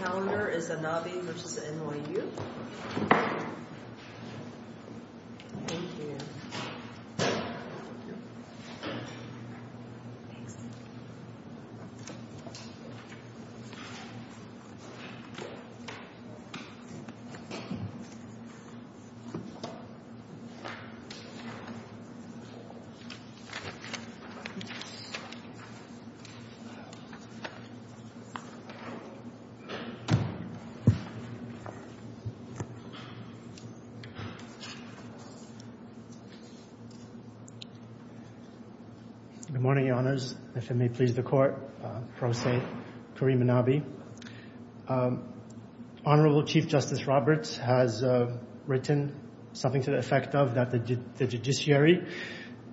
Next on the calendar is Anabi v. NYU Good morning, Your Honors. If it may please the Court, Pro Se, Kareem Anabi. Honorable Chief Justice Roberts has written something to the effect of that the judiciary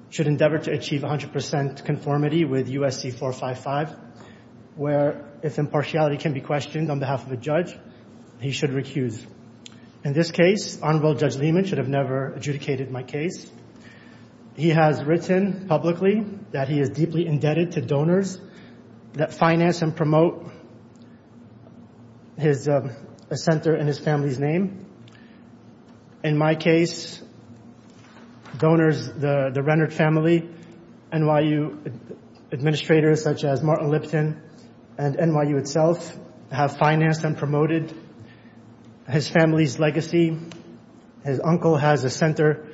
should endeavor to achieve 100% conformity with USC 455, where if impartiality can be questioned on behalf of a judge, he should recuse. In this case, Honorable Judge Lehman should have never adjudicated my case. He has written publicly that he is deeply indebted to donors that finance and promote his center and his family's name. In my case, donors, the Rennert family, NYU administrators such as Martin Lipton, and NYU itself have financed and promoted his family's legacy. His uncle has a center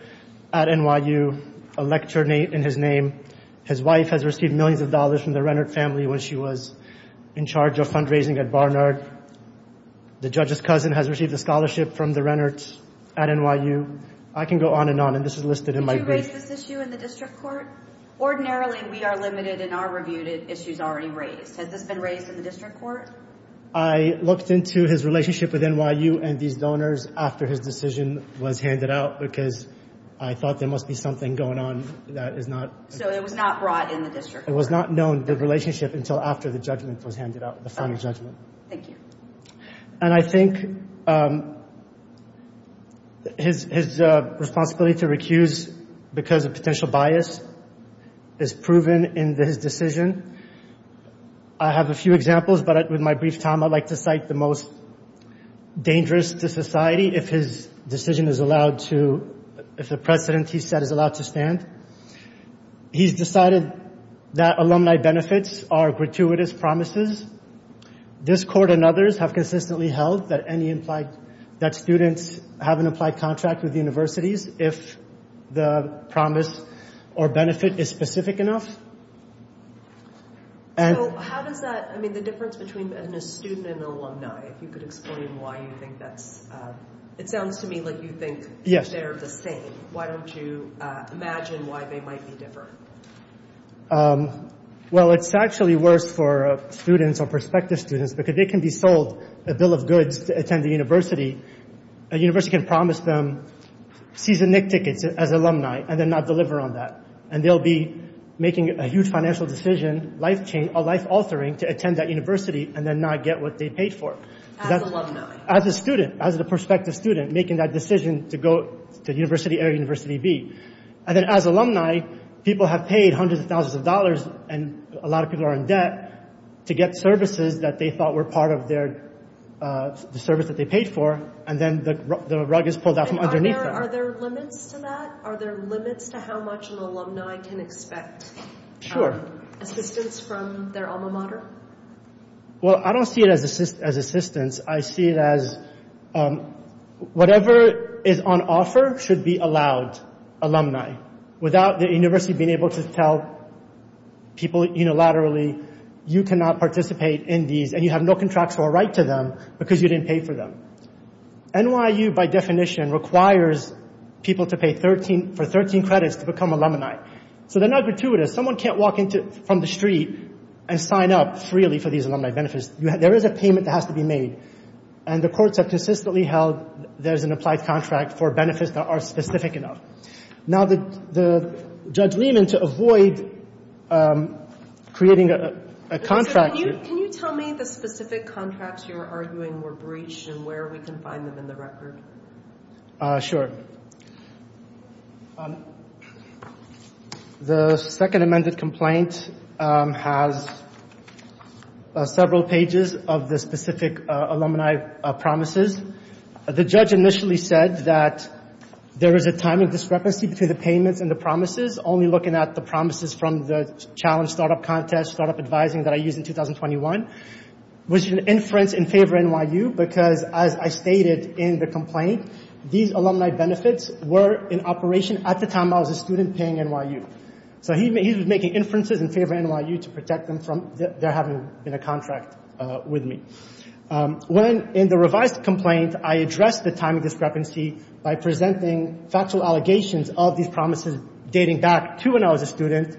at NYU, a lecture in his name. His wife has received millions of dollars from the Rennert family when she was in charge of fundraising at Barnard. The judge's cousin has received a scholarship from the Rennert at NYU. I can go on and on, and this is listed in my brief. Did you raise this issue in the district court? Ordinarily, we are limited in our review to issues already raised. Has this been raised in the district court? I looked into his relationship with NYU and these donors after his decision was handed out because I thought there must be something going on that is not. So it was not brought in the district court? It was not known, the relationship, until after the judgment was handed out, the final judgment. Thank you. And I think his responsibility to recuse because of potential bias is proven in his decision. I have a few examples, but with my brief time, I'd like to cite the most dangerous to society if his decision is allowed to, if the precedent he set is allowed to stand. He's decided that alumni benefits are gratuitous promises. This court and others have consistently held that students have an applied contract with universities if the promise or benefit is specific enough. So how does that – I mean, the difference between a student and an alumni, if you could explain why you think that's – it sounds to me like you think they're the same. Why don't you imagine why they might be different? Well, it's actually worse for students or prospective students because they can be sold a bill of goods to attend the university. A university can promise them season-nick tickets as alumni and then not deliver on that. And they'll be making a huge financial decision, a life altering, to attend that university and then not get what they paid for. As alumni. As a student, as a prospective student, making that decision to go to university A or university B. And then as alumni, people have paid hundreds of thousands of dollars and a lot of people are in debt to get services that they thought were part of their – the service that they paid for. And then the rug is pulled out from underneath them. And are there limits to that? Are there limits to how much an alumni can expect assistance from their alma mater? Well, I don't see it as assistance. I see it as whatever is on offer should be allowed, alumni, without the university being able to tell people unilaterally, you cannot participate in these and you have no contractual right to them because you didn't pay for them. NYU, by definition, requires people to pay 13 – for 13 credits to become alumni. So they're not gratuitous. Someone can't walk into – from the street and sign up freely for these alumni benefits. There is a payment that has to be made. And the courts have consistently held there's an applied contract for benefits that are specific enough. Now, the – Judge Lehman, to avoid creating a contract – Can you tell me the specific contracts you're arguing were breached and where we can find them in the record? Sure. The second amended complaint has several pages of the specific alumni promises. The judge initially said that there is a time of discrepancy between the payments and the promises, only looking at the promises from the Challenge Startup Contest Startup Advising that I used in 2021, which is an inference in favor of NYU because, as I stated in the complaint, these alumni benefits were in operation at the time I was a student paying NYU. So he was making inferences in favor of NYU to protect them from there having been a contract with me. When, in the revised complaint, I addressed the time of discrepancy by presenting factual allegations of these promises dating back to when I was a student,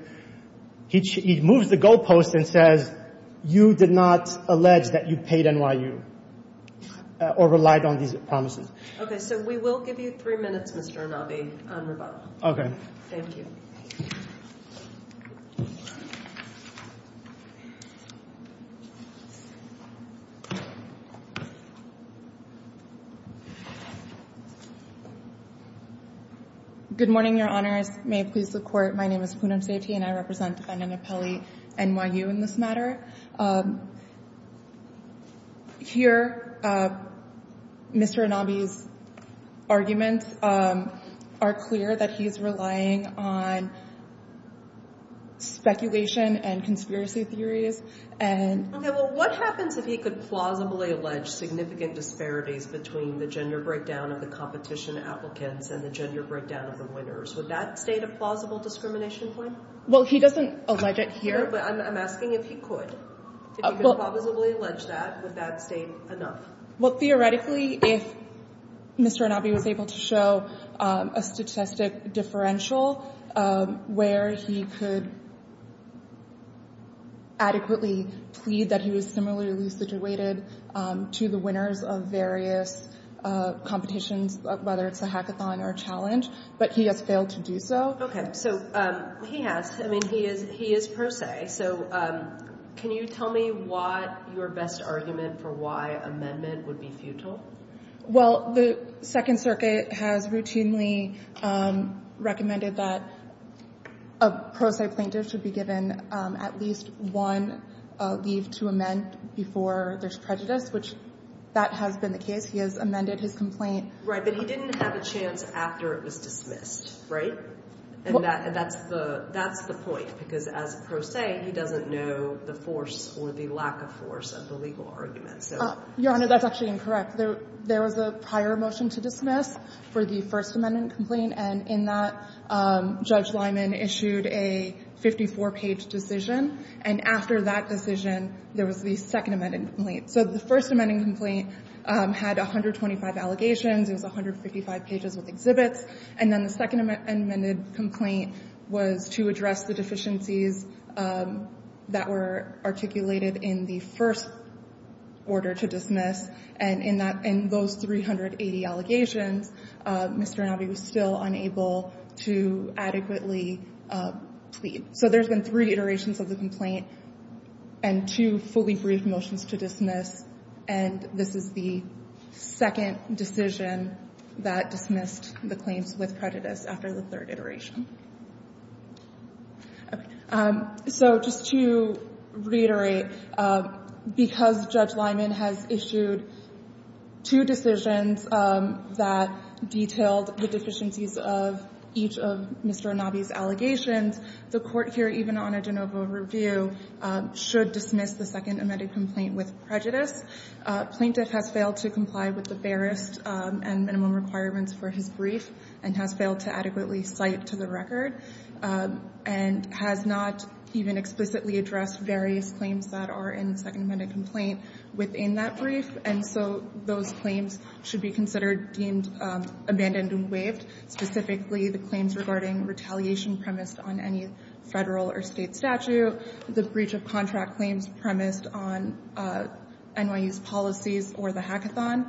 he moves the goalpost and says, you did not allege that you paid NYU or relied on these promises. Okay. So we will give you three minutes, Mr. Anabi, on rebuttal. Okay. Thank you. Good morning, Your Honors. May it please the Court. My name is Poonam Sethi and I represent defendant Apelli NYU in this matter. Here, Mr. Anabi's arguments are clear that he's relying on speculation and conspiracy theories. And what happens if he could plausibly allege significant disparities between the gender breakdown of the competition applicants and the gender breakdown of the winners? Would that state a plausible discrimination claim? Well, he doesn't allege it here, but I'm asking if he could. If he could plausibly allege that, would that state enough? Well, theoretically, if Mr. Anabi was able to show a statistic differential where he could adequately plead that he was similarly situated to the winners of various competitions, whether it's a hackathon or a challenge, but he has failed to do so. Okay. So he has. I mean, he is pro se. So can you tell me what your best argument for why amendment would be futile? Well, the Second Circuit has routinely recommended that a pro se plaintiff should be given at least one leave to amend before there's prejudice, which that has been the case. He has amended his complaint. Right. But he didn't have a chance after it was dismissed. Right? And that's the point, because as a pro se, he doesn't know the force or the lack of force of the legal argument. Your Honor, that's actually incorrect. There was a prior motion to dismiss for the First Amendment complaint. And in that, Judge Lyman issued a 54-page decision. And after that decision, there was the Second Amendment complaint. So the First Amendment complaint had 125 allegations. It was 155 pages with exhibits. And then the Second Amendment complaint was to address the deficiencies that were articulated in the first order to dismiss. And in that, in those 380 allegations, Mr. Inouye was still unable to adequately plead. So there's been three iterations of the complaint and two fully brief motions to dismiss. And this is the second decision that dismissed the claims with prejudice after the third iteration. Okay. So just to reiterate, because Judge Lyman has issued two decisions that detailed the deficiencies of each of Mr. Inouye's allegations, the Court here, even on a de novo review, should dismiss the Second Amendment complaint with prejudice. Plaintiff has failed to comply with the fairest and minimum requirements for his brief and has failed to adequately cite to the record and has not even explicitly addressed various claims that are in the Second Amendment complaint within that brief. And so those claims should be considered deemed abandoned and waived, specifically the claims regarding retaliation premised on any Federal or State statute, the breach of contract claims premised on NYU's policies or the hackathon,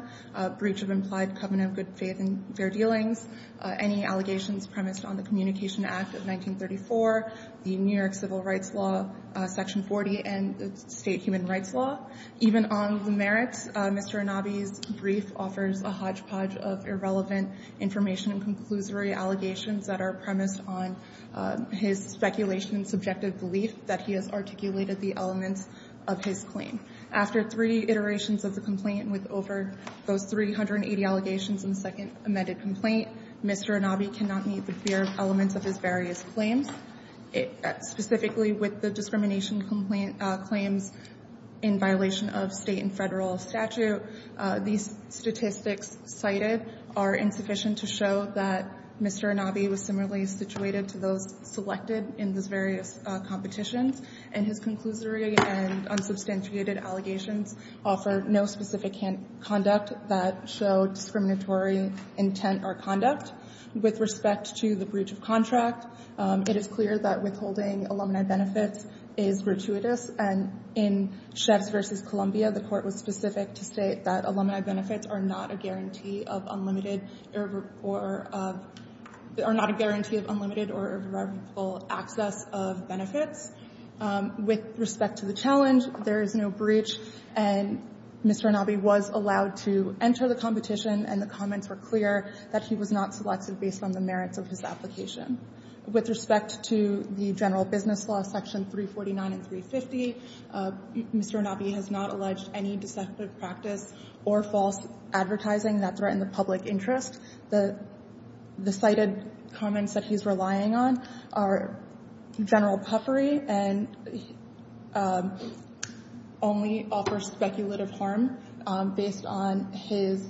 breach of implied covenant of good faith and fair dealings, any allegations premised on the Communication Act of 1934, the New York Civil Rights Law, Section 40, and the State Human Rights Law. Even on the merits, Mr. Inouye's brief offers a hodgepodge of irrelevant information and conclusory allegations that are premised on his speculation and subjective belief that he has articulated the elements of his claim. After three iterations of the complaint with over those 380 allegations in the Second Amendment complaint, Mr. Inouye cannot meet the fair elements of his various claims, specifically with the discrimination complaint claims in violation of State and Federal statute. These statistics cited are insufficient to show that Mr. Inouye was similarly situated to those selected in those various competitions, and his conclusory and unsubstantiated allegations offer no specific conduct that show discriminatory intent or conduct. With respect to the breach of contract, it is clear that withholding alumni benefits is gratuitous, and in Sheffs v. Columbia, the Court was specific to state that alumni benefits are not a guarantee of unlimited or irrevocable access of benefits. With respect to the challenge, there is no breach, and Mr. Inouye was allowed to enter the competition, and the comments were clear that he was not selected based on the merits of his application. With respect to the general business law section 349 and 350, Mr. Inouye has not alleged any deceptive practice or false advertising that threaten the public interest. The cited comments that he's relying on are general puffery and only offer speculative harm based on his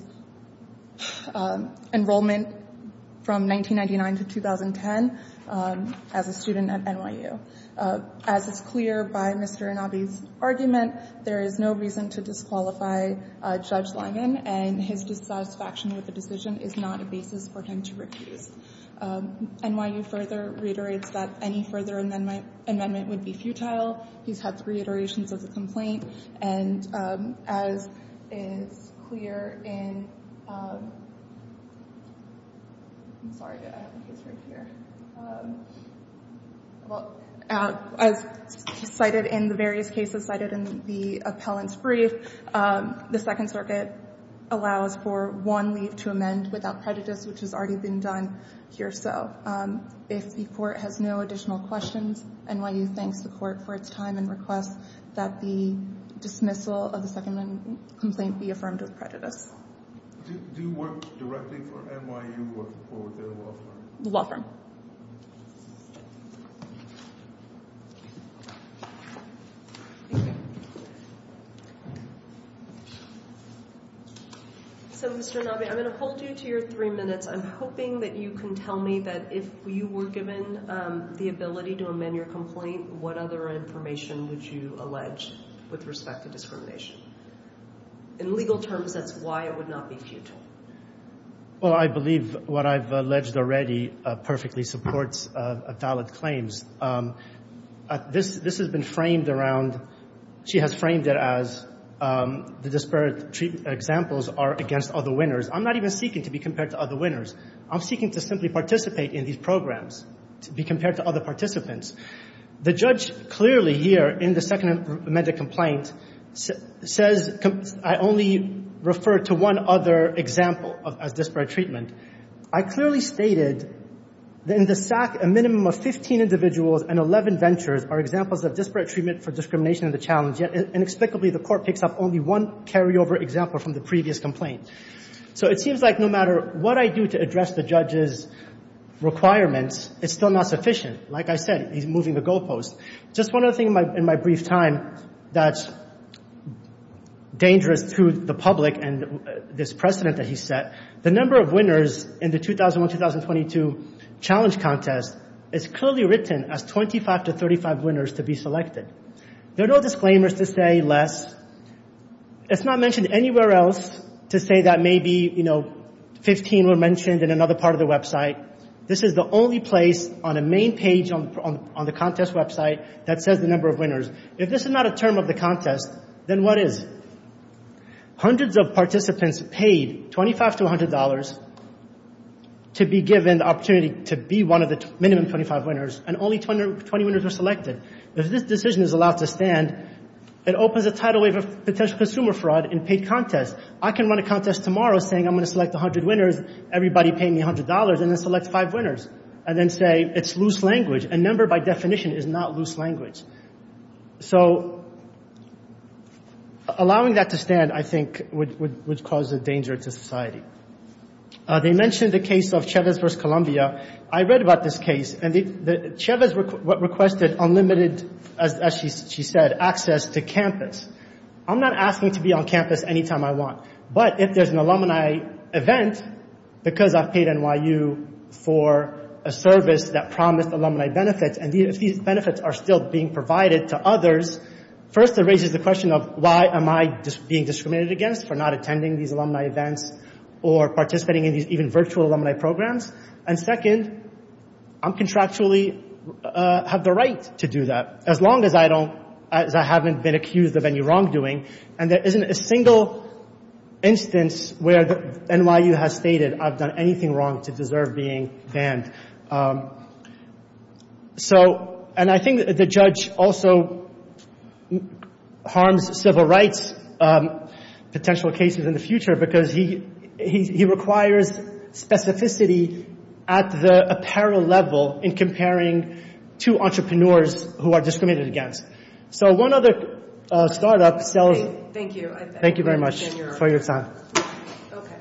enrollment from 1999 to 2010 as a student at NYU. As is clear by Mr. Inouye's argument, there is no reason to disqualify Judge Langen, and his dissatisfaction with the decision is not a basis for him to refuse. NYU further reiterates that any further amendment would be futile. He's had three iterations of the complaint, and as is clear in the various cases cited in the appellant's brief, the Second Circuit allows for one leave to amend without prejudice, which has already been done here. So if the court has no additional questions, NYU thanks the court for its time and requests that the dismissal of the Second Amendment complaint be affirmed with prejudice. Do you work directly for NYU or with the law firm? The law firm. So, Mr. Inouye, I'm going to hold you to your three minutes. I'm hoping that you can tell me that if you were given the ability to amend your complaint, what other information would you allege with respect to discrimination? In legal terms, that's why it would not be futile. Well, I believe what I've alleged already perfectly supports valid claims. This has been framed around, she has framed it as the disparate examples are against other winners. I'm not even seeking to be compared to other winners. I'm seeking to simply participate in these programs, to be compared to other participants. The judge clearly here in the Second Amendment complaint says I only refer to one other example as disparate treatment. I clearly stated in the SAC a minimum of 15 individuals and 11 ventures are examples of disparate treatment for discrimination in the challenge, yet inexplicably the court picks up only one carryover example from the previous complaint. So it seems like no matter what I do to address the judge's requirements, it's still not sufficient. Like I said, he's moving the goalposts. Just one other thing in my brief time that's dangerous to the public and this precedent that he set, the number of winners in the 2001-2022 challenge contest is clearly written as 25 to 35 winners to be selected. There are no disclaimers to say less. It's not mentioned anywhere else to say that maybe, you know, 15 were mentioned in another part of the website. This is the only place on a main page on the contest website that says the number of winners. If this is not a term of the contest, then what is? Hundreds of participants paid $25 to $100 to be given the opportunity to be one of the minimum 25 winners and only 20 winners were selected. If this decision is allowed to stand, it opens a tidal wave of potential consumer fraud in paid contests. I can run a contest tomorrow saying I'm going to select 100 winners. Everybody pay me $100 and then select five winners and then say it's loose language. A number by definition is not loose language. So allowing that to stand, I think, would cause a danger to society. They mentioned the case of Chavez versus Columbia. I read about this case and Chavez requested unlimited, as she said, access to campus. I'm not asking to be on campus anytime I want. But if there's an alumni event, because I've paid NYU for a service that promised alumni benefits and these benefits are still being provided to others, first it raises the question of why am I being discriminated against for not attending these alumni events or participating in these even virtual alumni programs. And second, I contractually have the right to do that as long as I haven't been accused of any wrongdoing. And there isn't a single instance where NYU has stated I've done anything wrong to deserve being banned. So, and I think the judge also harms civil rights potential cases in the future because he requires specificity at the apparel level in comparing two entrepreneurs who are discriminated against. So, one other startup. Thank you. Thank you very much for your time. Okay.